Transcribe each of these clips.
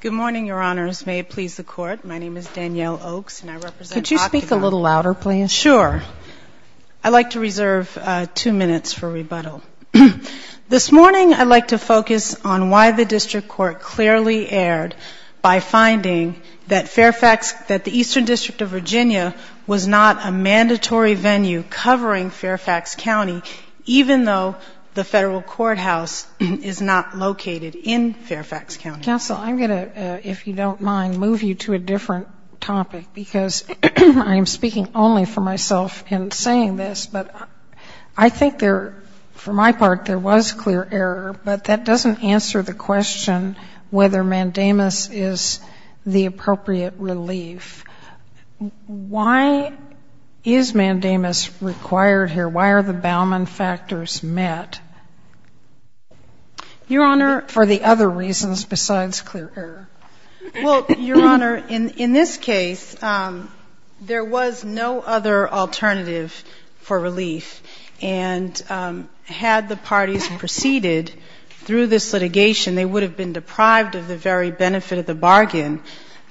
Good morning, Your Honors. May it please the Court, my name is Danielle Oaks, and I represent the Auditor- Could you speak a little louder, please? Sure. I'd like to reserve two minutes for rebuttal. This morning, I'd like to focus on why the District Court clearly erred by finding that Fairfax, that the Eastern District of Virginia was not a mandatory venue covering Fairfax County, even though the Federal Courthouse is not located in Fairfax County. Counsel, I'm going to, if you don't mind, move you to a different topic, because I am speaking only for myself in saying this, but I think there, for my part, there was clear error, but that doesn't answer the question whether mandamus is the appropriate relief. Why is mandamus required here? Why are the Bauman factors met? Your Honor, for the other reasons besides clear error. Well, Your Honor, in this case, there was no other alternative for relief, and had the parties proceeded through this litigation, they would have been deprived of the very benefit of the bargain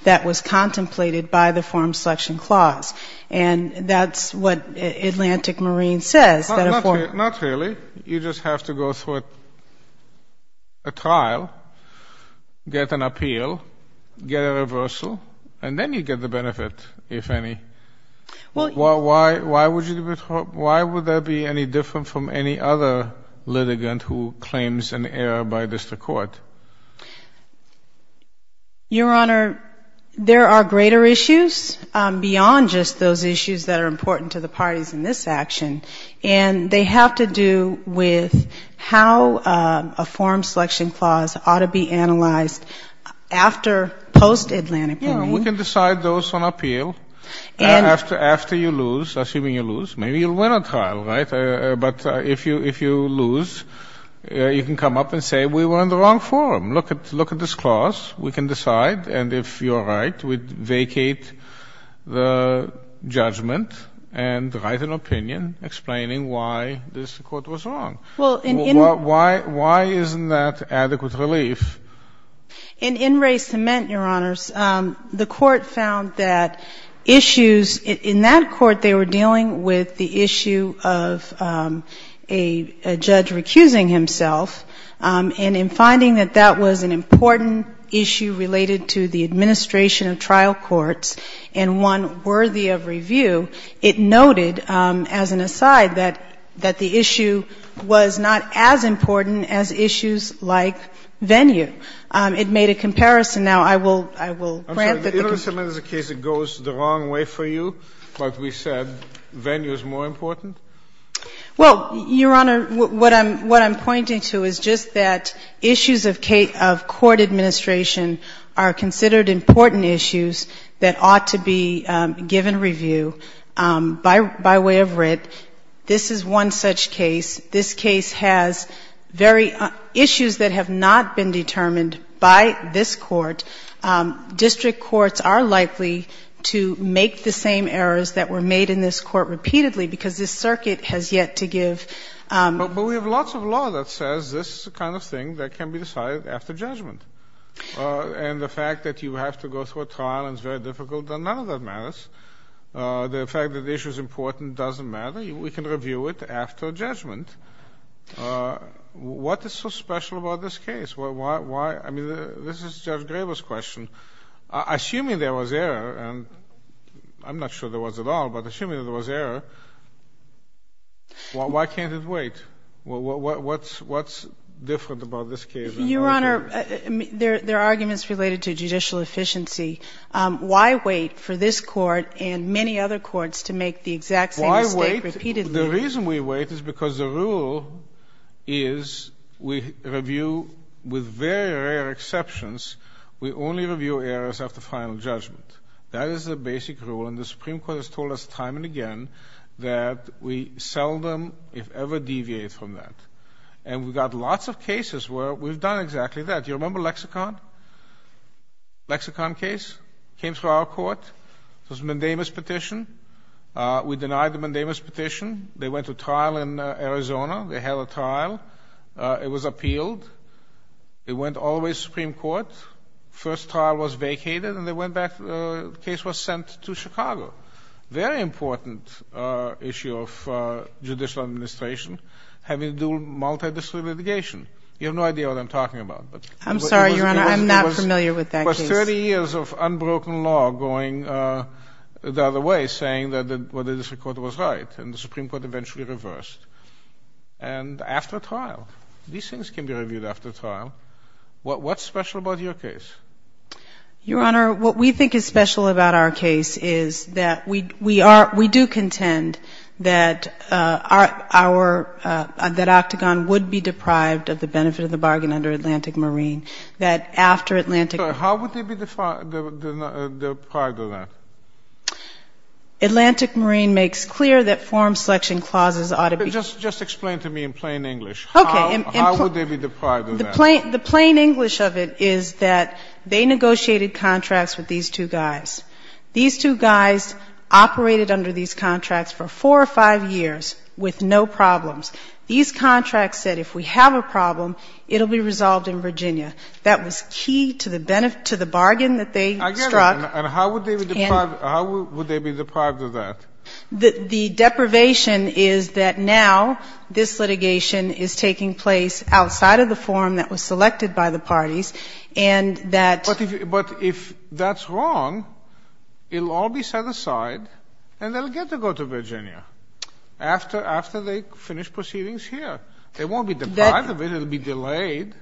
that was contemplated by the Form Selection Clause, and that's what Atlantic Marine says that a form- Not really. You just have to go through a trial, get an appeal, get a reversal, and then you get the benefit, if any. Why would there be any different from any other litigant who claims an error by district court? Your Honor, there are greater issues beyond just those issues that are important to the parties in this action, and they have to do with how a Form Selection Clause ought to be analyzed after post-Atlantic Marine. Yes, we can decide those on appeal, after you lose, assuming you lose. Maybe you'll lose. You can come up and say, we were in the wrong forum. Look at this clause. We can decide, and if you're right, we vacate the judgment and write an opinion explaining why this court was wrong. Well, in- Why isn't that adequate relief? In Wray-Cement, Your Honors, the court found that issues in that court, they were dealing with the issue of a judge recusing himself, and in finding that that was an important issue related to the administration of trial courts and one worthy of review, it noted, as an aside, that the issue was not as important as issues like venue. It made a comparison. Now, I will grant that the case- Well, Your Honor, what I'm pointing to is just that issues of court administration are considered important issues that ought to be given review by way of writ. This is one such case. This case has very issues that have not been determined by this court. District courts are likely to make the same errors that were made in this court repeatedly because this circuit has yet to give- But we have lots of law that says this is the kind of thing that can be decided after judgment. And the fact that you have to go through a trial and it's very difficult, then none of that matters. The fact that the issue is important doesn't matter. We can review it after judgment. What is so special about this case? Why? I mean, this is Judge Graber's question. Assuming there was error, and I'm not sure there was at all, but assuming there was error, why can't it wait? What's different about this case? Your Honor, there are arguments related to judicial efficiency. Why wait for this court and many other courts to make the exact same mistake repeatedly? The reason we wait is because the rule is we review with very rare exceptions. We only review errors after final judgment. That is the basic rule, and the Supreme Court has told us time and again that we seldom, if ever, deviate from that. And we've got lots of cases where we've done exactly that. Do you remember Lexicon? Lexicon case? Came through our court. It was a mandamus petition. We denied the mandamus petition. They went to trial in Arizona. They had a trial. It was appealed. It went all the way to the Supreme Court. First trial was vacated, and they went back. The case was sent to Chicago. Very important issue of judicial administration, having to do multidisciplinary litigation. You have no idea what I'm talking about. I'm sorry, Your Honor. I'm not familiar with that case. You have 30 years of unbroken law going the other way, saying that what the district court was right, and the Supreme Court eventually reversed. And after trial, these things can be reviewed after trial. What's special about your case? Your Honor, what we think is special about our case is that we are we do contend that our that Octagon would be deprived of the benefit of the bargain under Atlantic Marine, that after Atlantic How would they be deprived of that? Atlantic Marine makes clear that forum selection clauses ought to be Just explain to me in plain English. How would they be deprived of that? The plain English of it is that they negotiated contracts with these two guys. These two guys operated under these contracts for four or five years with no problems. These contracts said if we have a problem, it will be resolved in Virginia. That was key to the bargain that they struck. I get it. And how would they be deprived of that? The deprivation is that now this litigation is taking place outside of the forum that was selected by the parties, and that But if that's wrong, it will all be set aside, and they will get to go to Virginia after they finish proceedings here. They won't be deprived of it. It will be delayed.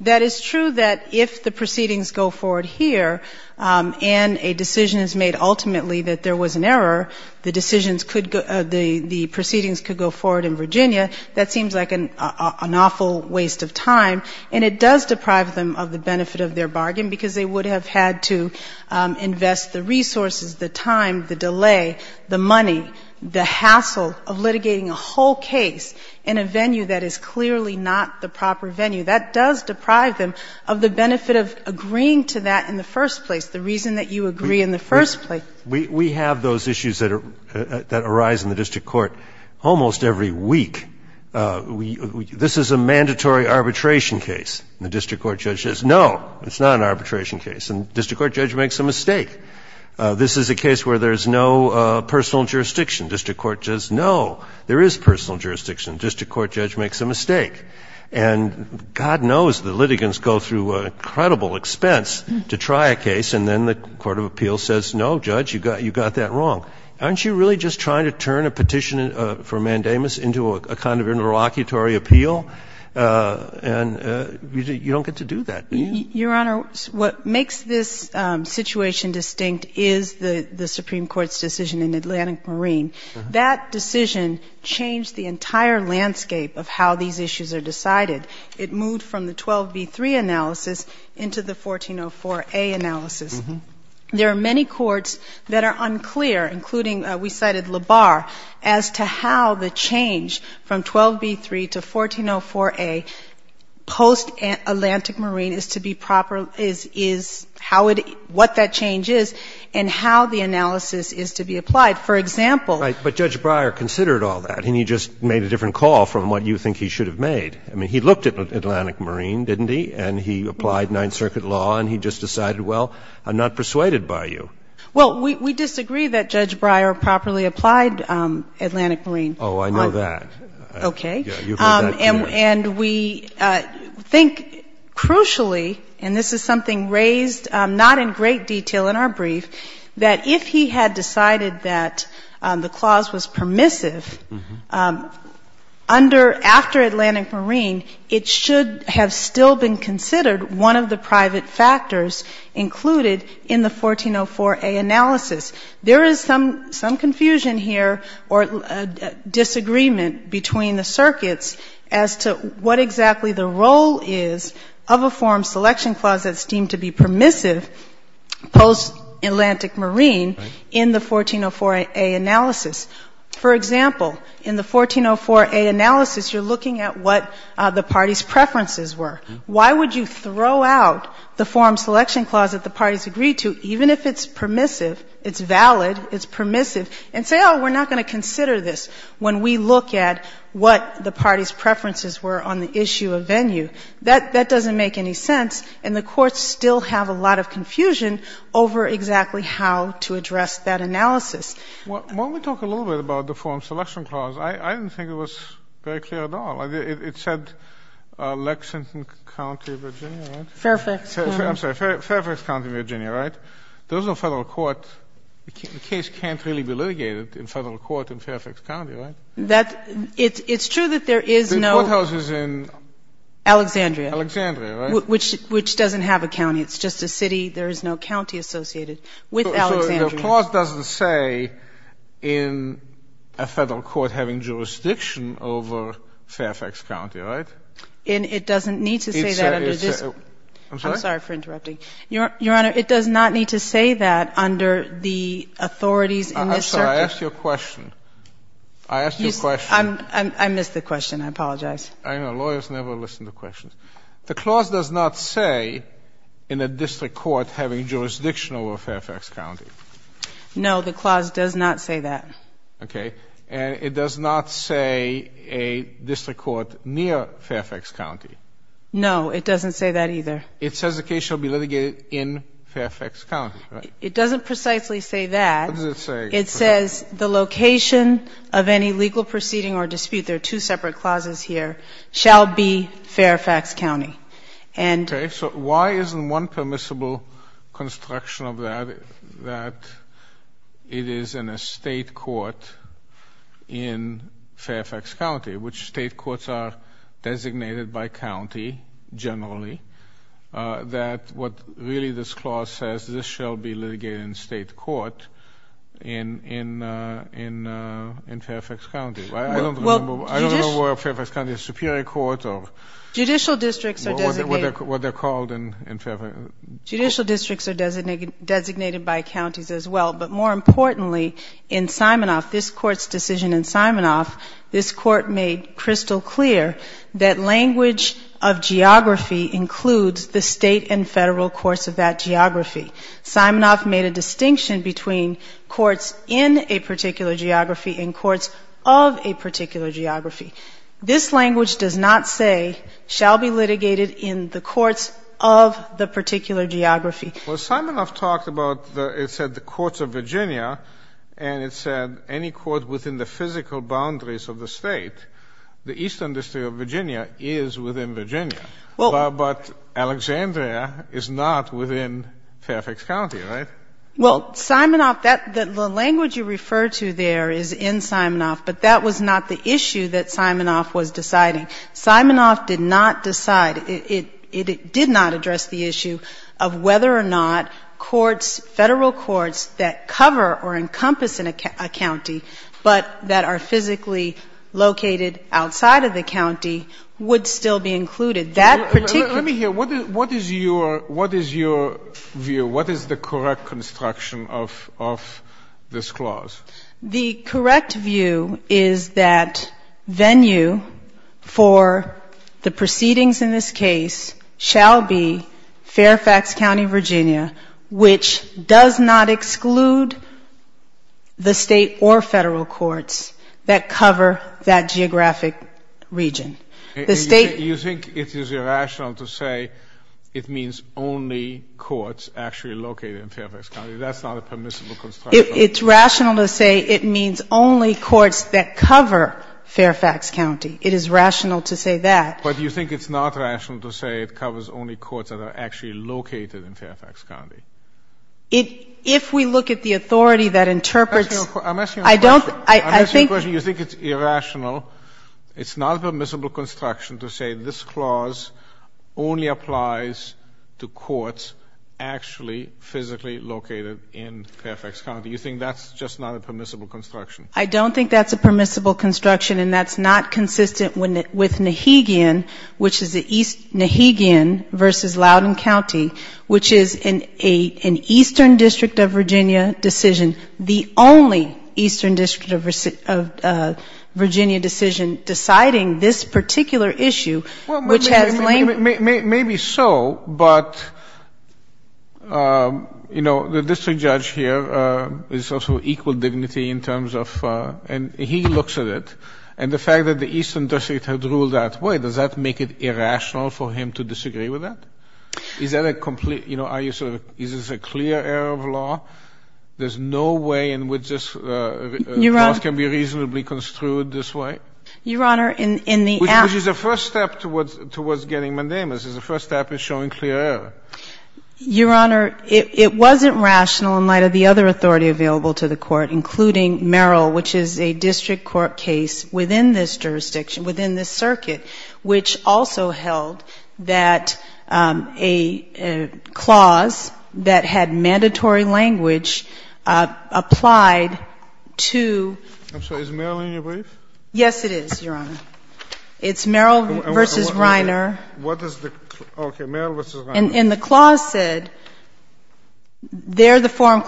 That is true that if the proceedings go forward here and a decision is made ultimately that there was an error, the decisions could go the proceedings could go forward in Virginia. That seems like an awful waste of time, and it does deprive them of the benefit of their bargain because they would have had to invest the resources, the time, the delay, the money, the hassle of litigating a whole case in a venue that is clearly not the proper venue. That does deprive them of the benefit of agreeing to that in the first place, the reason that you agree in the first place. We have those issues that arise in the district court almost every week. This is a mandatory arbitration case. And the district court judge says, no, it's not an arbitration case. And the district court judge makes a mistake. This is a case where there's no personal jurisdiction. The district court says, no, there is personal jurisdiction. The district court judge makes a mistake. And God knows the litigants go through incredible expense to try a case, and then the court of appeals says, no, judge, you got that wrong. Aren't you really just trying to turn a petition for mandamus into a kind of interlocutory appeal? And you don't get to do that. Your Honor, what makes this situation distinct is the Supreme Court's decision in Atlantic Marine. That decision changed the entire landscape of how these issues are decided. It moved from the 12B3 analysis into the 1404A analysis. There are many courts that are unclear, including, we cited Labar, as to how the change from 12B3 to 1404A post-Atlantic Marine is to be proper, is how it, what that change is, and how the analysis is to be applied. For example. But Judge Breyer considered all that, and he just made a different call from what you think he should have made. I mean, he looked at Atlantic Marine, didn't he, and he applied Ninth Circuit law, and he just decided, well, I'm not persuaded by you. Well, we disagree that Judge Breyer properly applied Atlantic Marine. Oh, I know that. Okay. You've heard that before. And we think, crucially, and this is something raised not in great detail in our brief, that if he had decided that the clause was permissive, under, after Atlantic Marine, it should have still been considered one of the private factors included in the 1404A analysis. There is some confusion here or disagreement between the circuits as to what exactly the role is of a forum selection clause that's deemed to be permissive post-Atlantic Marine in the 1404A analysis. For example, in the 1404A analysis, you're looking at what the parties' preferences were. Why would you throw out the forum selection clause that the parties agreed to, even if it's permissive, it's valid, it's permissive, and say, oh, we're not going to consider this when we look at what the parties' preferences were on the issue of venue? That doesn't make any sense, and the courts still have a lot of confusion over exactly how to address that analysis. When we talk a little bit about the forum selection clause, I didn't think it was very clear at all. It said Lexington County, Virginia, right? Fairfax County. I'm sorry, Fairfax County, Virginia, right? There's no federal court. The case can't really be litigated in federal court in Fairfax County, right? It's true that there is no... The courthouse is in... Alexandria. Alexandria, right? Which doesn't have a county. It's just a city. There is no county associated with Alexandria. So the clause doesn't say in a federal court having jurisdiction over Fairfax County, right? And it doesn't need to say that under this... I'm sorry? I'm sorry for interrupting. Your Honor, it does not need to say that under the authorities in this circuit. I'm sorry. I asked you a question. I asked you a question. I missed the question. I apologize. I know. Lawyers never listen to questions. The clause does not say in a district court having jurisdiction over Fairfax County. No, the clause does not say that. Okay. And it does not say a district court near Fairfax County. No, it doesn't say that either. It says the case shall be litigated in Fairfax County, right? It doesn't precisely say that. What does it say? It says the location of any legal proceeding or dispute, there are two separate clauses here, shall be Fairfax County. And... Okay. So why isn't one permissible construction of that that it is in a state court in Fairfax County, generally, that what really this clause says, this shall be litigated in state court in Fairfax County. I don't remember where Fairfax County Superior Court or... Judicial districts are designated... What they're called in Fairfax... Judicial districts are designated by counties as well. But more importantly, in Simonoff, this Court's decision in Simonoff, this Court made crystal clear that language of geography includes the state and federal courts of that geography. Simonoff made a distinction between courts in a particular geography and courts of a particular geography. This language does not say shall be litigated in the courts of the particular geography. Well, Simonoff talked about, it said the courts of Virginia, and it said any court within the physical boundaries of the State, the Eastern District of Virginia is within Virginia. Well... But Alexandria is not within Fairfax County, right? Well, Simonoff, the language you refer to there is in Simonoff, but that was not the issue that Simonoff was deciding. Simonoff did not decide, it did not address the issue of whether or not courts, federal courts that cover or encompass a county, but that are physically located outside of the county, would still be included. That particular... Let me hear. What is your view? What is the correct construction of this clause? The correct view is that venue for the proceedings in this case shall be Fairfax County, Virginia, which does not exclude the State or federal courts that cover that geographic region. The State... You think it is irrational to say it means only courts actually located in Fairfax County? That's not a permissible construction. It's rational to say it means only courts that cover Fairfax County. It is rational to say that. But you think it's not rational to say it covers only courts that are actually located in Fairfax County? If we look at the authority that interprets... I'm asking you a question. You think it's irrational, it's not a permissible construction to say this clause only applies to courts actually physically located in Fairfax County. You think that's just not a permissible construction? I don't think that's a permissible construction, and that's not consistent with Nahegian, which is the East Nahegian versus Loudoun County, which is an Eastern District of Virginia decision, the only Eastern District of Virginia decision deciding this particular issue, which has... Maybe so, but, you know, the district judge here is also equal dignity in terms of and he looks at it, and the fact that the Eastern District had ruled that way, does that make it irrational for him to disagree with that? Is that a complete, you know, is this a clear error of law? There's no way in which this clause can be reasonably construed this way? Your Honor, in the app... Which is the first step towards getting mandamus. It's the first step in showing clear error. Your Honor, it wasn't rational in light of the other authority available to the Court, including Merrill, which is a district court case within this jurisdiction, within this circuit, which also held that a clause that had mandatory language applied to... I'm sorry, is Merrill in your brief? Yes, it is, Your Honor. It's Merrill versus Reiner. What is the... Okay, Merrill versus Reiner. And the clause said, there the forum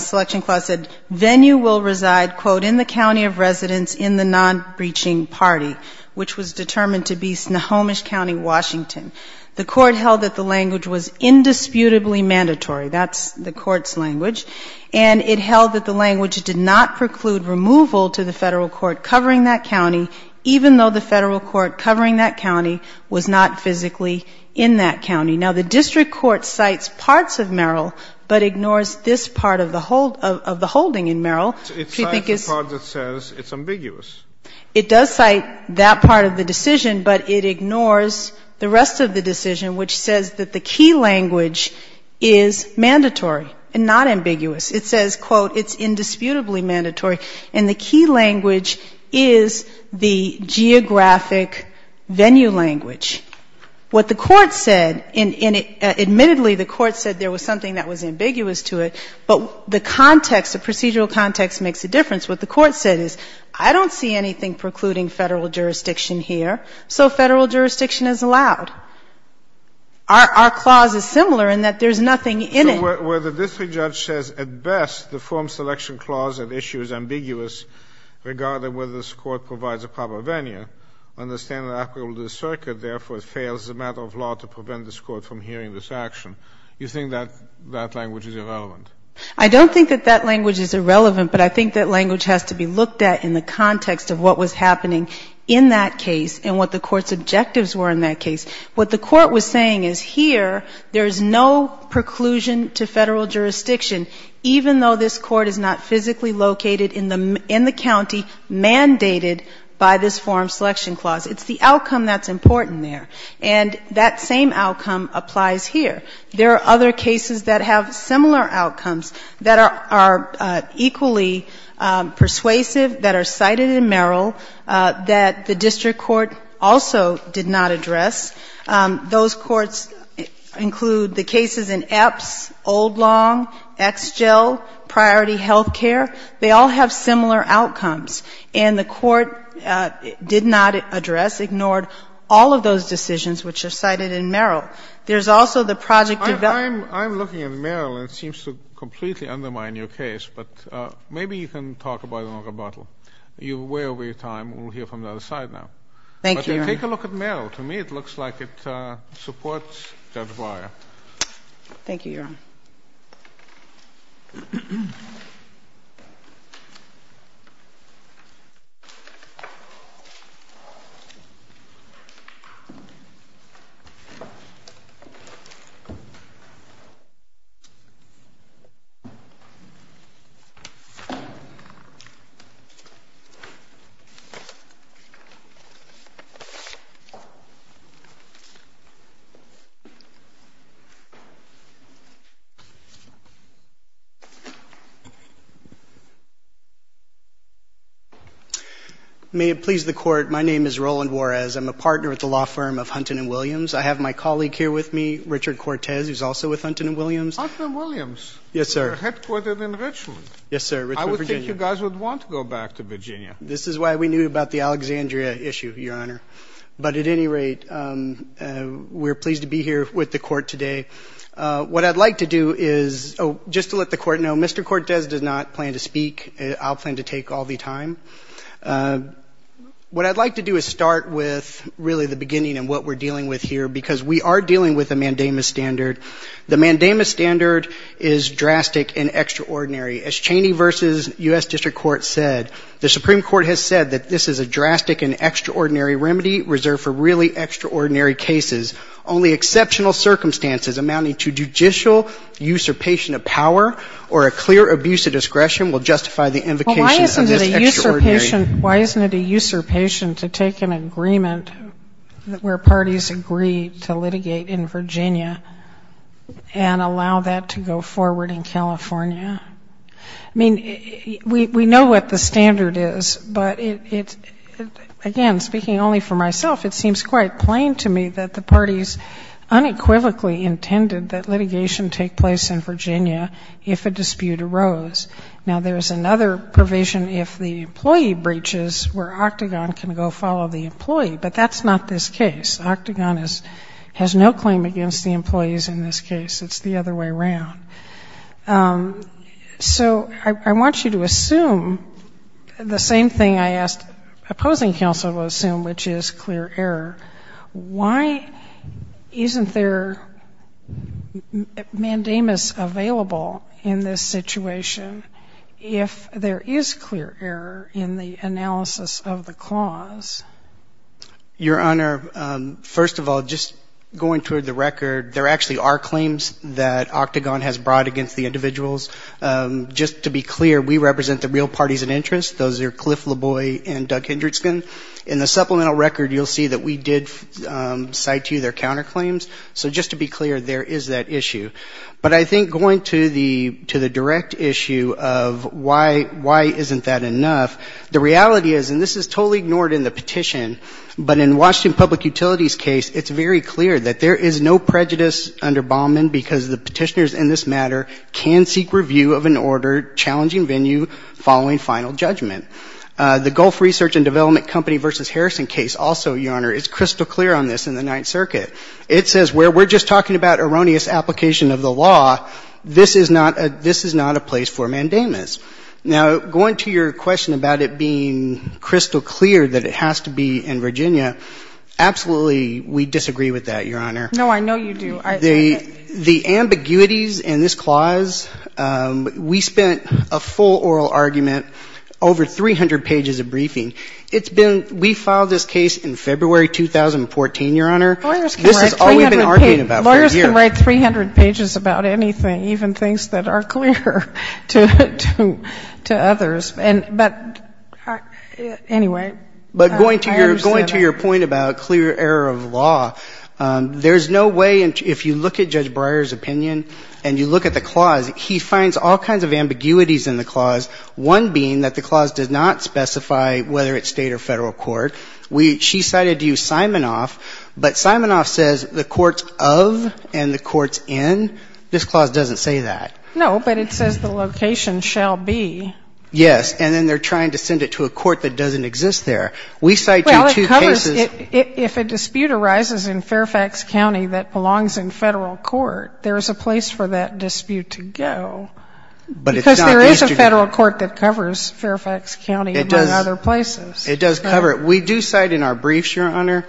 selection clause said, venue will reside, quote, in the county of residence in the non-breaching party, which was determined to be Snohomish County, Washington. The Court held that the language was indisputably mandatory. That's the Court's language. And it held that the language did not preclude removal to the Federal court covering that county, even though the Federal court covering that county was not physically in that county. Now, the district court cites parts of Merrill, but ignores this part of the holding in Merrill. It cites the part that says it's ambiguous. It does cite that part of the decision, but it ignores the rest of the decision, which says that the key language is mandatory and not ambiguous. It says, quote, it's indisputably mandatory. And the key language is the geographic location venue language. What the Court said, and admittedly the Court said there was something that was ambiguous to it, but the context, the procedural context makes a difference. What the Court said is, I don't see anything precluding Federal jurisdiction here, so Federal jurisdiction is allowed. Our clause is similar in that there's nothing in it. So where the district judge says at best the forum selection clause at issue is ambiguous regarding whether this Court provides a proper venue, and the standard applicable to the circuit, therefore, fails as a matter of law to prevent this Court from hearing this action, you think that that language is irrelevant? I don't think that that language is irrelevant, but I think that language has to be looked at in the context of what was happening in that case and what the Court's objectives were in that case. What the Court was saying is here there is no preclusion to Federal jurisdiction even though this Court is not physically located in the county mandated by this forum selection clause. It's the outcome that's important there. And that same outcome applies here. There are other cases that have similar outcomes that are equally persuasive, that are cited in Merrill, that the district court also did not address. Those courts include the cases in Epps, Old Long, Exgel, Priority Health Care. They all have similar outcomes. And the Court did not address, ignored all of those decisions which are cited in Merrill. There's also the project of the other. I'm looking at Merrill, and it seems to completely undermine your case, but maybe you can talk about it on rebuttal. You're way over your time. We'll hear from the other side now. Thank you, Your Honor. Take a look at Merrill. To me it looks like it supports Judge Breyer. Thank you, Your Honor. May it please the Court, my name is Roland Juarez. I'm a partner at the law firm of Hunton & Williams. I have my colleague here with me, Richard Cortez, who's also with Hunton & Williams. Hunton & Williams. Yes, sir. They're headquartered in Richmond. Yes, sir. I would think you guys would want to go back to Virginia. This is why we knew about the Alexandria issue, Your Honor. But at any rate, we're pleased to be here with the Court today. What I'd like to do is, just to let the Court know, Mr. Cortez does not plan to speak. I'll plan to take all the time. What I'd like to do is start with really the beginning and what we're dealing with here, because we are dealing with a mandamus standard. The mandamus standard is a drastic and extraordinary remedy reserved for really extraordinary cases. Only exceptional circumstances amounting to judicial usurpation of power or a clear abuse of discretion will justify the invocation of this extraordinary remedy. Well, why isn't it a usurpation to take an agreement where parties agree to litigate in Virginia and allow that to go forward in California? I mean, we know what the case is, but it's, again, speaking only for myself, it seems quite plain to me that the parties unequivocally intended that litigation take place in Virginia if a dispute arose. Now, there's another provision if the employee breaches where Octagon can go follow the employee. But that's not this case. Octagon has no claim against the employees in this case. It's the other way around. So I want you to assume the same thing I asked opposing counsel to assume, which is clear error. Why isn't there mandamus available in this situation if there is clear error in the analysis of the clause? Your Honor, first of all, just going toward the record, there actually are claims that Octagon has brought against the individuals. Just to be clear, we represent the real parties of interest. Those are Cliff Laboy and Doug Hendrickson. In the supplemental record, you'll see that we did cite to you their counterclaims. So just to be clear, there is that issue. But I think going to the direct issue of why isn't that enough, the reality is, and this is totally ignored in the petition, but in Washington Public Utilities case, it's very clear that there is no prejudice under Baumann because the petitioners in this matter can seek review of an order challenging venue following final judgment. The Gulf Research and Development Company v. Harrison case also, Your Honor, is crystal clear on this in the Ninth Circuit. It says where we're just talking about erroneous application of the law, this is not a place for mandamus. Now, going to your question about it being crystal clear that it has to be in Virginia, absolutely we disagree with that, Your Honor. No, I know you do. The ambiguities in this clause, we spent a full oral argument, over 300 pages of briefing. It's been we filed this case in February 2014, Your Honor. Lawyers can write 300 pages. This is all we've been arguing about for a year. Lawyers can write 300 pages about anything, even things that are clear to others. But anyway, I understand that. But going to your point about clear error of law, there's no way, if you look at Judge Breyer's opinion and you look at the clause, he finds all kinds of ambiguities in the clause, one being that the clause does not specify whether it's State or Federal court. She cited you, Simonoff, but Simonoff says the court's of and the court's in. This clause doesn't say that. No, but it says the location shall be. Yes, and then they're trying to send it to a court that doesn't exist there. Well, it covers, if a dispute arises in Fairfax County that belongs in Federal court, there's a place for that dispute to go, because there is a Federal court that covers Fairfax County but other places. It does cover it. We do cite in our briefs, Your Honor,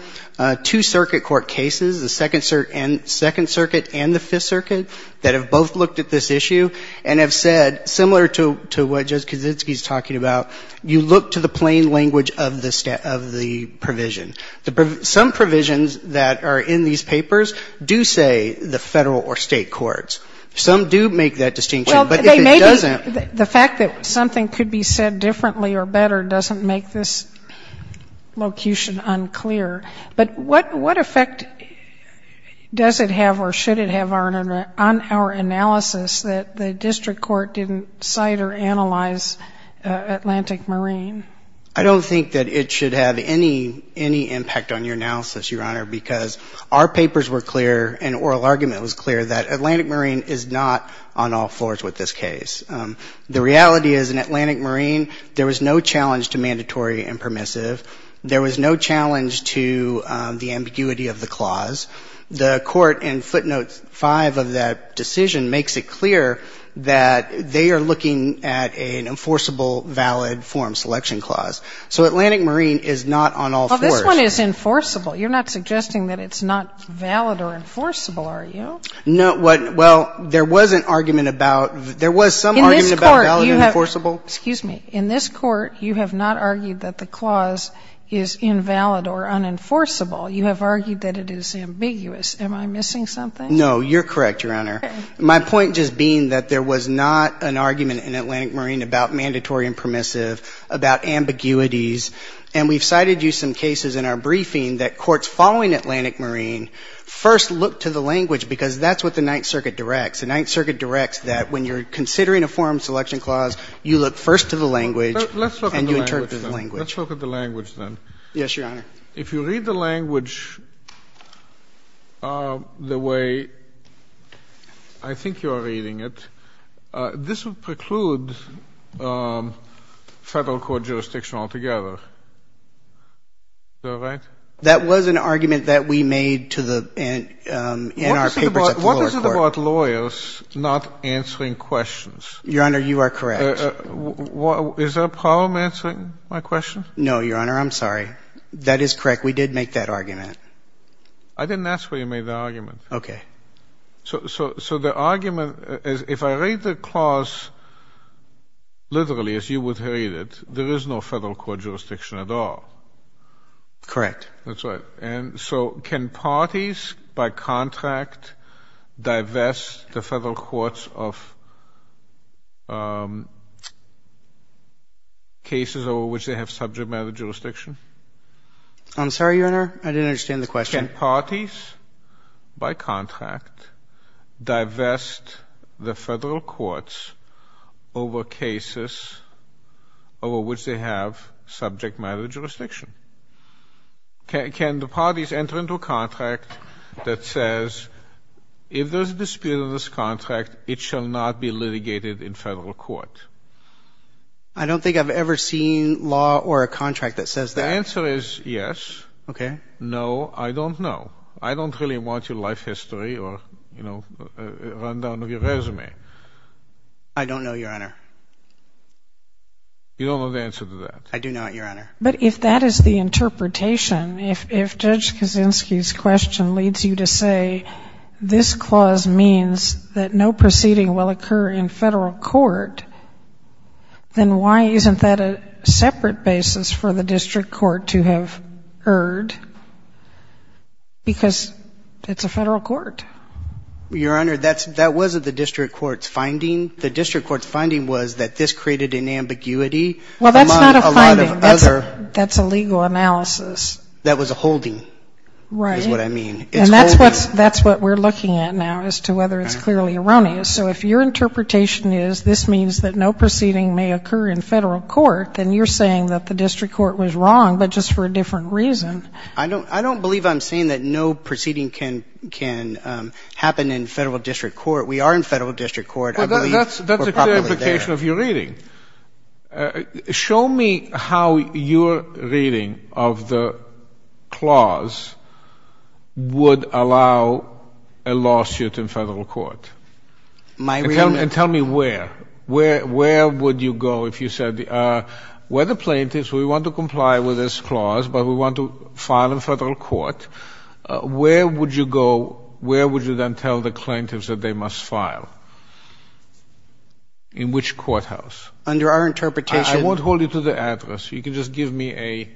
two circuit court cases, the Second Circuit and the Fifth Circuit, that have both looked at this issue and have said, similar to what Judge Kaczynski's talking about, you look to the plain language of the provision. Some provisions that are in these papers do say the Federal or State courts. Some do make that distinction. Well, the fact that something could be said differently or better doesn't make this locution unclear. But what effect does it have or should it have on our analysis that the district court didn't cite or analyze Atlantic Marine? I don't think that it should have any impact on your analysis, Your Honor, because our papers were clear and oral argument was clear that Atlantic Marine is not on all floors with this case. The reality is in Atlantic Marine, there was no challenge to mandatory and permissive. There was no challenge to the ambiguity of the clause. The court in footnote 5 of that decision makes it clear that they are looking at an enforceable valid form selection clause. So Atlantic Marine is not on all floors. Well, this one is enforceable. You're not suggesting that it's not valid or enforceable, are you? No. Well, there was an argument about, there was some argument about valid and enforceable. In this court, you have not argued that the clause is invalid or unenforceable. You have argued that it is ambiguous. Am I missing something? No. You're correct, Your Honor. My point just being that there was not an argument in Atlantic Marine about mandatory and permissive, about ambiguities. And we've cited you some cases in our briefing that courts following Atlantic Marine first look to the language because that's what the Ninth Circuit directs. The Ninth Circuit directs that when you're considering a form selection clause, you look first to the language and you interpret the language. Let's look at the language, then. Yes, Your Honor. If you read the language the way I think you are reading it, this would preclude Federal Court jurisdiction altogether. Is that right? That was an argument that we made to the, in our papers at the lower court. What is it about lawyers not answering questions? Your Honor, you are correct. Is there a problem answering my question? No, Your Honor. I'm sorry. That is correct. We did make that argument. I didn't ask for you to make the argument. Okay. So the argument is if I read the clause literally as you would read it, there is no Federal Court jurisdiction at all. Correct. That's right. And so can parties by contract divest the Federal Courts of cases over which they have subject matter jurisdiction? I'm sorry, Your Honor. I didn't understand the question. Can parties by contract divest the Federal Courts over cases over which they have subject matter jurisdiction? Can the parties enter into a contract that says if there is a dispute in this contract, it shall not be litigated in Federal Court? I don't think I've ever seen law or a contract that says that. The answer is yes. Okay. No, I don't know. I don't really want your life history or, you know, a rundown of your resume. I don't know, Your Honor. You don't know the answer to that? I do not, Your Honor. But if that is the interpretation, if Judge Kaczynski's question leads you to say this clause means that no proceeding will occur in Federal Court, then why isn't that a separate basis for the district court to have erred? Because it's a Federal Court. Your Honor, that wasn't the district court's finding. The district court's finding was that this created an ambiguity among a lot of other. Well, that's not a finding. That's a legal analysis. That was a holding is what I mean. Right. And that's what we're looking at now as to whether it's clearly erroneous. So if your interpretation is this means that no proceeding may occur in Federal Court, then you're saying that the district court was wrong, but just for a different reason. I don't believe I'm saying that no proceeding can happen in Federal District Court. We are in Federal District Court. I believe we're properly there. Well, that's a clear implication of your reading. Show me how your reading of the clause would allow a lawsuit in Federal Court. My reading? And tell me where. Where would you go if you said, where are the plaintiffs? We want to comply with this clause, but we want to file in Federal Court. Where would you go? Where would you then tell the plaintiffs that they must file? In which courthouse? Under our interpretation. I won't hold you to the address. You can just give me a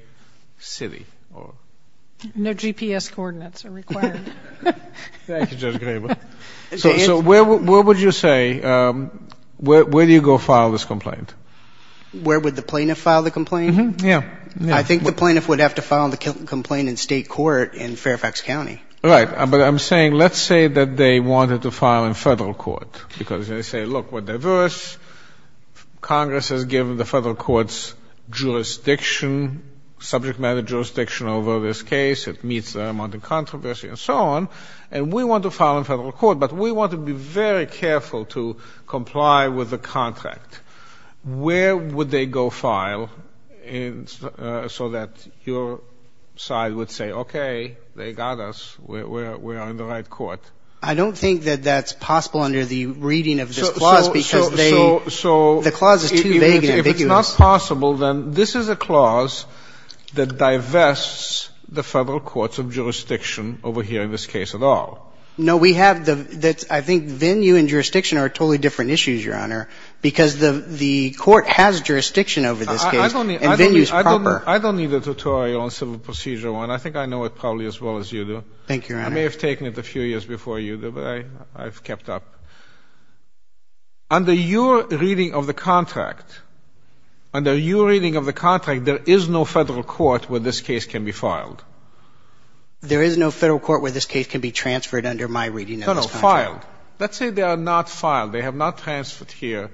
city. No GPS coordinates are required. Thank you, Judge Graber. So where would you say, where do you go file this complaint? Where would the plaintiff file the complaint? Yeah. I think the plaintiff would have to file the complaint in State Court in Fairfax County. Right. But I'm saying let's say that they wanted to file in Federal Court because they say, look, we're diverse, Congress has given the Federal Court's jurisdiction, subject matter jurisdiction over this case, it meets the amount of controversy and so on, and we want to file in Federal Court, but we want to be very careful to comply with the contract. Where would they go file so that your side would say, okay, they got us, we are in the right court? I don't think that that's possible under the reading of this clause because they, the clause is too vague. If it's not possible, then this is a clause that divests the Federal Court's jurisdiction over here in this case at all. No, we have the, I think venue and jurisdiction are totally different issues, Your Honor, because the court has jurisdiction over this case and venue is proper. I don't need a tutorial on civil procedure one. I think I know it probably as well as you do. Thank you, Your Honor. I may have taken it a few years before you do, but I've kept up. Under your reading of the contract, under your reading of the contract, there is no Federal Court where this case can be filed. There is no Federal Court where this case can be transferred under my reading of this contract? No, no, filed. Let's say they are not filed. They have not transferred here.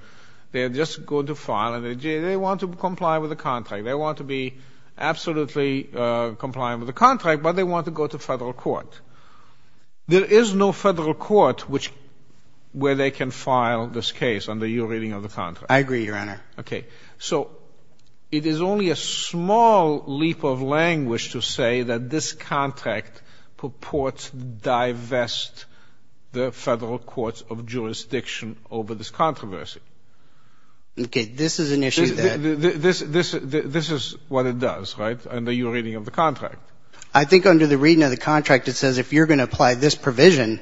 They are just going to file, and they want to comply with the contract. They want to be absolutely compliant with the contract, but they want to go to Federal Court. There is no Federal Court where they can file this case under your reading of the contract. I agree, Your Honor. Okay. So it is only a small leap of language to say that this contract purports to divest the Federal Court's jurisdiction over this controversy. Okay. This is an issue that — This is what it does, right, under your reading of the contract? I think under the reading of the contract it says if you're going to apply this provision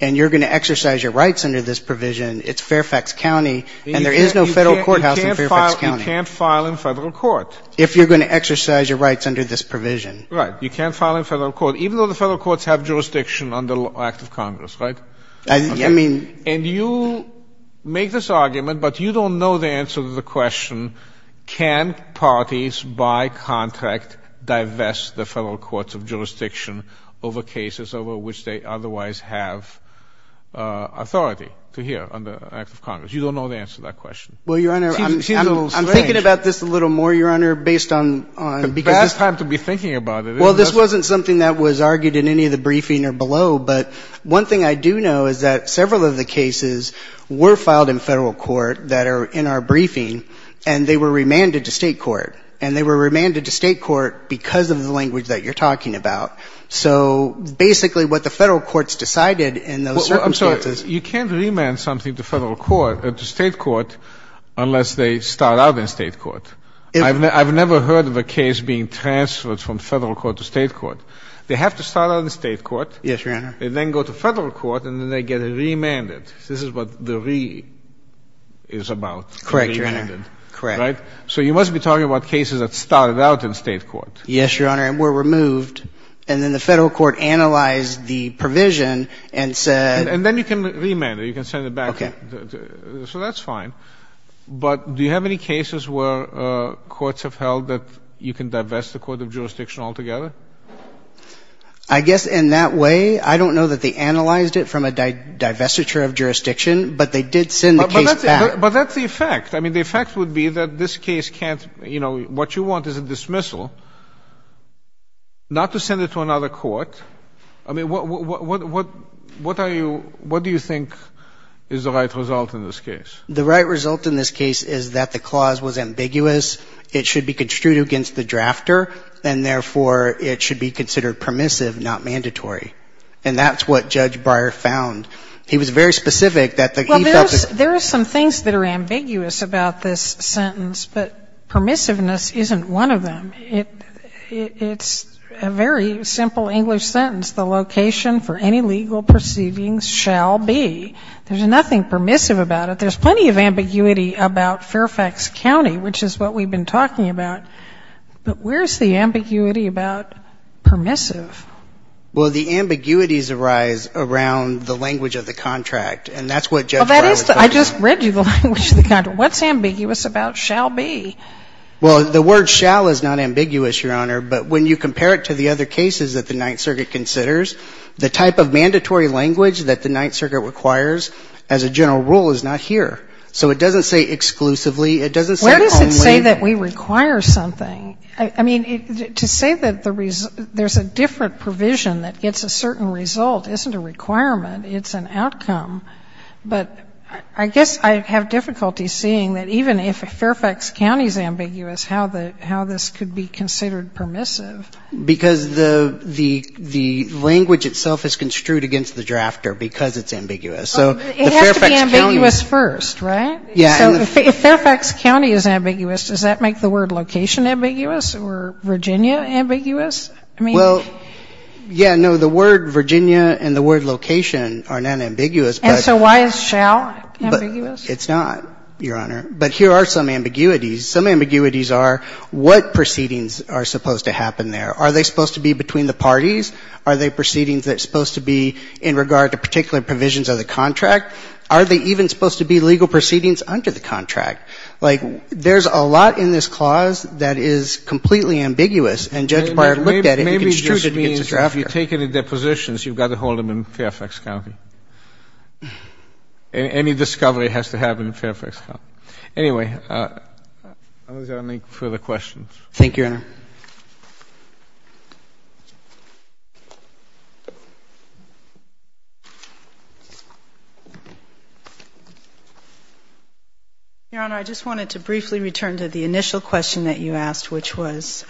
and you're going to exercise your rights under this provision, it's Fairfax County, and there is no Federal Courthouse in Fairfax County. You can't file in Federal Court. If you're going to exercise your rights under this provision. Right. You can't file in Federal Court, even though the Federal Courts have jurisdiction under the Act of Congress, right? I mean — And you make this argument, but you don't know the answer to the question, can parties by contract divest the Federal Courts of jurisdiction over cases over which they otherwise have authority to hear under the Act of Congress? You don't know the answer to that question. Well, Your Honor, I'm — She's a little strange. I'm thinking about this a little more, Your Honor, based on — It's a bad time to be thinking about it. Well, this wasn't something that was argued in any of the briefing or below, but one thing I do know is that several of the cases were filed in Federal Court that are in our briefing, and they were remanded to State Court. And they were remanded to State Court because of the language that you're talking about. So basically what the Federal Courts decided in those circumstances — Well, I'm sorry. You can't remand something to State Court unless they start out in State Court. I've never heard of a case being transferred from Federal Court to State Court. They have to start out in State Court. Yes, Your Honor. They then go to Federal Court, and then they get remanded. This is what the re is about. Correct, Your Honor. Correct. Right? So you must be talking about cases that started out in State Court. Yes, Your Honor, and were removed. And then the Federal Court analyzed the provision and said — And then you can remand it. You can send it back. Okay. So that's fine. But do you have any cases where courts have held that you can divest the court of jurisdiction altogether? I guess in that way, I don't know that they analyzed it from a divestiture of jurisdiction, but they did send the case back. But that's the effect. I mean, the effect would be that this case can't — you know, what you want is a dismissal, not to send it to another court. I mean, what are you — what do you think is the right result in this case? The right result in this case is that the clause was ambiguous, it should be construed against the drafter, and therefore it should be considered permissive, not mandatory. And that's what Judge Breyer found. He was very specific that the — Well, there are some things that are ambiguous about this sentence, but permissiveness isn't one of them. It's a very simple English sentence. The location for any legal proceedings shall be — there's nothing permissive about it. But there's plenty of ambiguity about Fairfax County, which is what we've been talking about. But where's the ambiguity about permissive? Well, the ambiguities arise around the language of the contract. And that's what Judge Breyer was talking about. Well, that is — I just read you the language of the contract. What's ambiguous about shall be? Well, the word shall is not ambiguous, Your Honor. But when you compare it to the other cases that the Ninth Circuit considers, the type of mandatory language that the Ninth Circuit requires as a general rule is not here. So it doesn't say exclusively. It doesn't say only. Where does it say that we require something? I mean, to say that there's a different provision that gets a certain result isn't a requirement. It's an outcome. But I guess I have difficulty seeing that even if Fairfax County is ambiguous, how this could be considered permissive. Because the language itself is construed against the drafter because it's ambiguous. So the Fairfax County — It has to be ambiguous first, right? Yeah. So if Fairfax County is ambiguous, does that make the word location ambiguous or Virginia ambiguous? I mean — Well, yeah, no, the word Virginia and the word location are not ambiguous, but — And so why is shall ambiguous? It's not, Your Honor. But here are some ambiguities. Some ambiguities are what proceedings are supposed to happen there. Are they supposed to be between the parties? Are they proceedings that are supposed to be in regard to particular provisions of the contract? Are they even supposed to be legal proceedings under the contract? Like, there's a lot in this clause that is completely ambiguous. And Judge Breyer looked at it and construed it against the drafter. Maybe it just means that if you take any depositions, you've got to hold them in Fairfax County. Any discovery has to happen in Fairfax County. Anyway, are there any further questions? Thank you, Your Honor. Your Honor, I just wanted to briefly return to the initial question that you asked, which was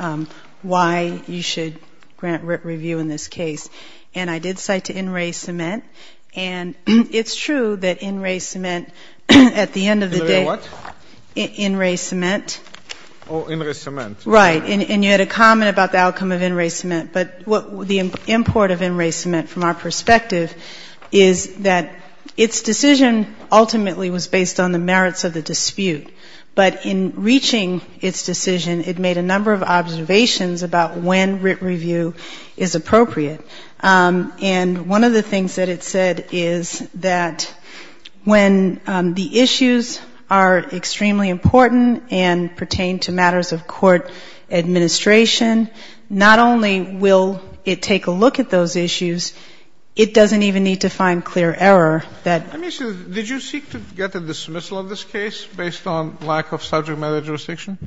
why you should grant review in this case. And I did cite to in-ray cement, and it's true that in-ray cement, at the end of the day — In-ray what? In-ray cement. Oh, in-ray cement. Right. And you had a comment about the outcome of in-ray cement. But the import of in-ray cement from our perspective is that its decision ultimately was based on the merits of the dispute. But in reaching its decision, it made a number of observations about when review is appropriate. And one of the things that it said is that when the issues are extremely important and pertain to matters of court administration, not only will it take a look at those issues, it doesn't even need to find clear error that — Let me see. Did you seek to get a dismissal of this case based on lack of subject matter jurisdiction?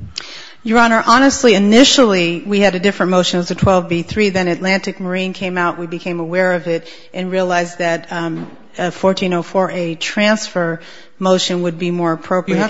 Your Honor, honestly, initially, we had a different motion. It was a 12b-3. Then Atlantic Marine came out. We became aware of it and realized that a 1404a transfer motion would be more appropriate. You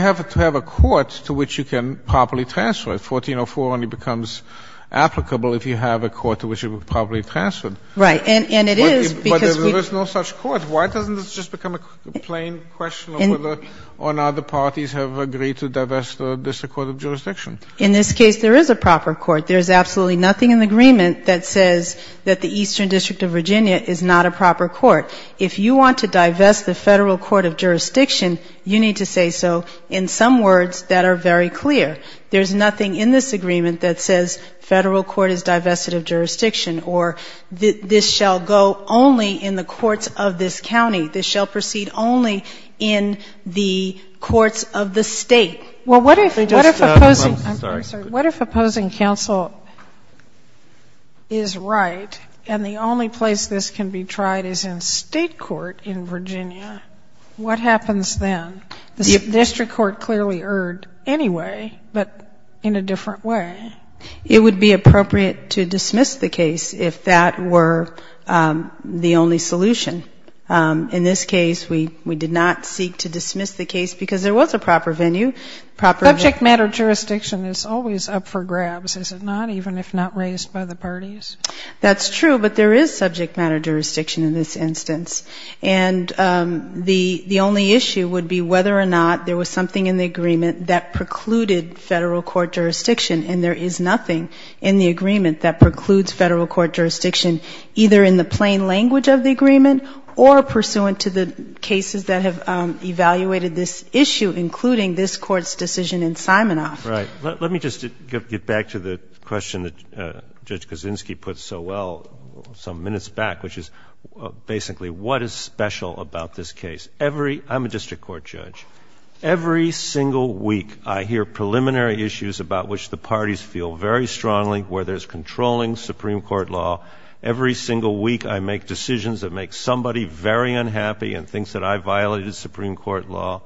have to have a court to which you can properly transfer it. 1404 only becomes applicable if you have a court to which you can properly transfer it. Right. And it is because we — But there is no such court. But why doesn't this just become a plain question of whether or not the parties have agreed to divest the District Court of Jurisdiction? In this case, there is a proper court. There is absolutely nothing in the agreement that says that the Eastern District of Virginia is not a proper court. If you want to divest the Federal Court of Jurisdiction, you need to say so in some words that are very clear. There is nothing in this agreement that says Federal Court is divested of jurisdiction or this shall go only in the courts of this county. This shall proceed only in the courts of the State. Well, what if — I'm sorry. What if opposing counsel is right and the only place this can be tried is in State court in Virginia? What happens then? The District Court clearly erred anyway, but in a different way. It would be appropriate to dismiss the case if that were the only solution. In this case, we did not seek to dismiss the case because there was a proper venue. Subject matter jurisdiction is always up for grabs, is it not, even if not raised by the parties? That's true, but there is subject matter jurisdiction in this instance. And the only issue would be whether or not there was something in the agreement that precluded Federal Court jurisdiction. And there is nothing in the agreement that precludes Federal Court jurisdiction either in the plain language of the agreement or pursuant to the cases that have evaluated this issue, including this Court's decision in Simonoff. Right. Let me just get back to the question that Judge Kaczynski put so well some minutes back, which is basically what is special about this case. Every — I'm a District Court judge. Every single week, I hear preliminary issues about which the parties feel very strongly where there's controlling Supreme Court law. Every single week, I make decisions that make somebody very unhappy and thinks that I violated Supreme Court law.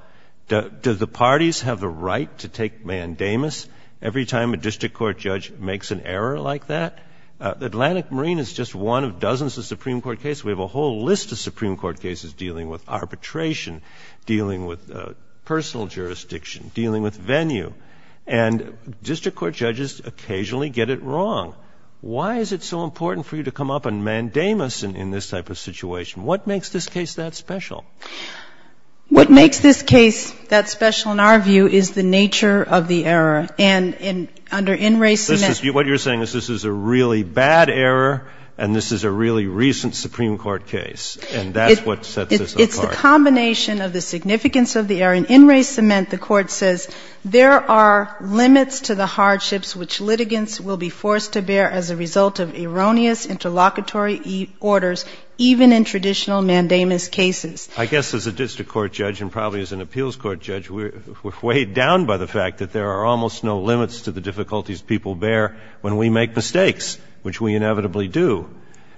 Do the parties have the right to take mandamus every time a District Court judge makes an error like that? The Atlantic Marine is just one of dozens of Supreme Court cases. We have a whole list of Supreme Court cases dealing with arbitration, dealing with personal jurisdiction, dealing with venue. And District Court judges occasionally get it wrong. Why is it so important for you to come up and mandamus in this type of situation? What makes this case that special? What makes this case that special, in our view, is the nature of the error. And under in race — This is — what you're saying is this is a really bad error and this is a really recent Supreme Court case. And that's what sets this apart. It's the combination of the significance of the error. And in race cement, the Court says there are limits to the hardships which litigants will be forced to bear as a result of erroneous interlocutory orders, even in traditional mandamus cases. I guess as a District Court judge and probably as an appeals court judge, we're weighed down by the fact that there are almost no limits to the difficulties people bear when we make mistakes, which we inevitably do.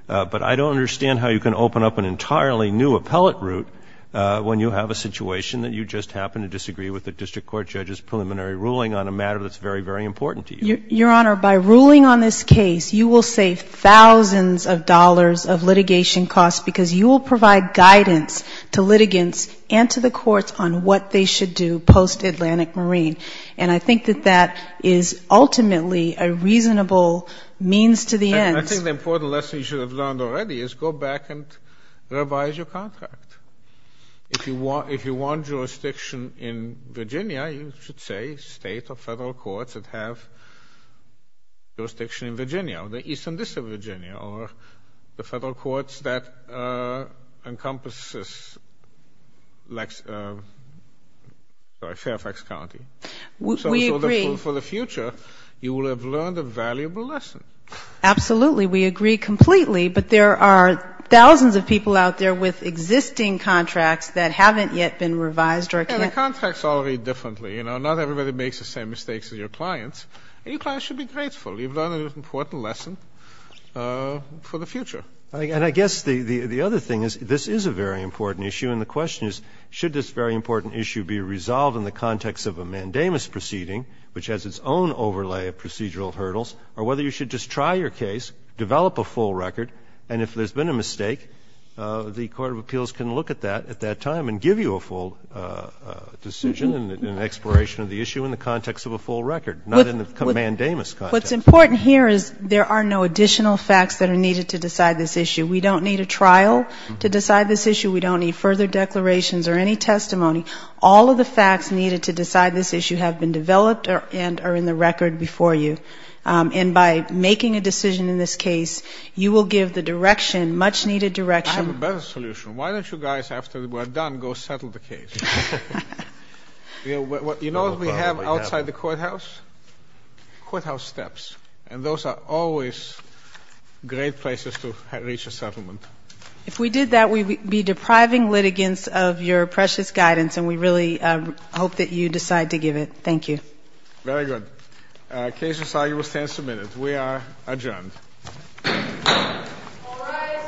But I don't understand how you can open up an entirely new appellate route when you have a situation that you just happen to disagree with the District Court judge's preliminary ruling on a matter that's very, very important to you. Your Honor, by ruling on this case, you will save thousands of dollars of litigation costs because you will provide guidance to litigants and to the courts on what they should do post-Atlantic Marine. I think the important lesson you should have learned already is go back and revise your contract. If you want jurisdiction in Virginia, you should say state or federal courts that have jurisdiction in Virginia, or the east and west of Virginia, or the federal courts that encompasses Fairfax County. We agree. So for the future, you will have learned a valuable lesson. Absolutely. We agree completely. But there are thousands of people out there with existing contracts that haven't yet been revised or can't be. And the contracts all read differently. You know, not everybody makes the same mistakes as your clients. And your clients should be grateful. You've learned an important lesson for the future. And I guess the other thing is this is a very important issue, and the question is, should this very important issue be resolved in the context of a mandamus proceeding, which has its own overlay of procedural hurdles, or whether you should just try your case, develop a full record, and if there's been a mistake, the court of appeals can look at that at that time and give you a full decision and an exploration of the issue in the context of a full record, not in the mandamus context. What's important here is there are no additional facts that are needed to decide this issue. We don't need a trial to decide this issue. We don't need further declarations or any testimony. All of the facts needed to decide this issue have been developed and are in the record before you. And by making a decision in this case, you will give the direction, much-needed direction. I have a better solution. Why don't you guys, after we're done, go settle the case? You know what we have outside the courthouse? And those are always great places to reach a settlement. If we did that, we'd be depriving litigants of your precious guidance, and we really hope that you decide to give it. Thank you. Case resolved. You will stand submitted. We are adjourned. All rise.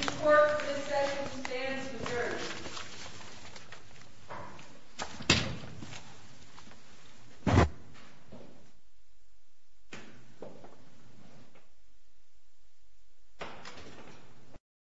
The court for this session stands adjourned. Thank you.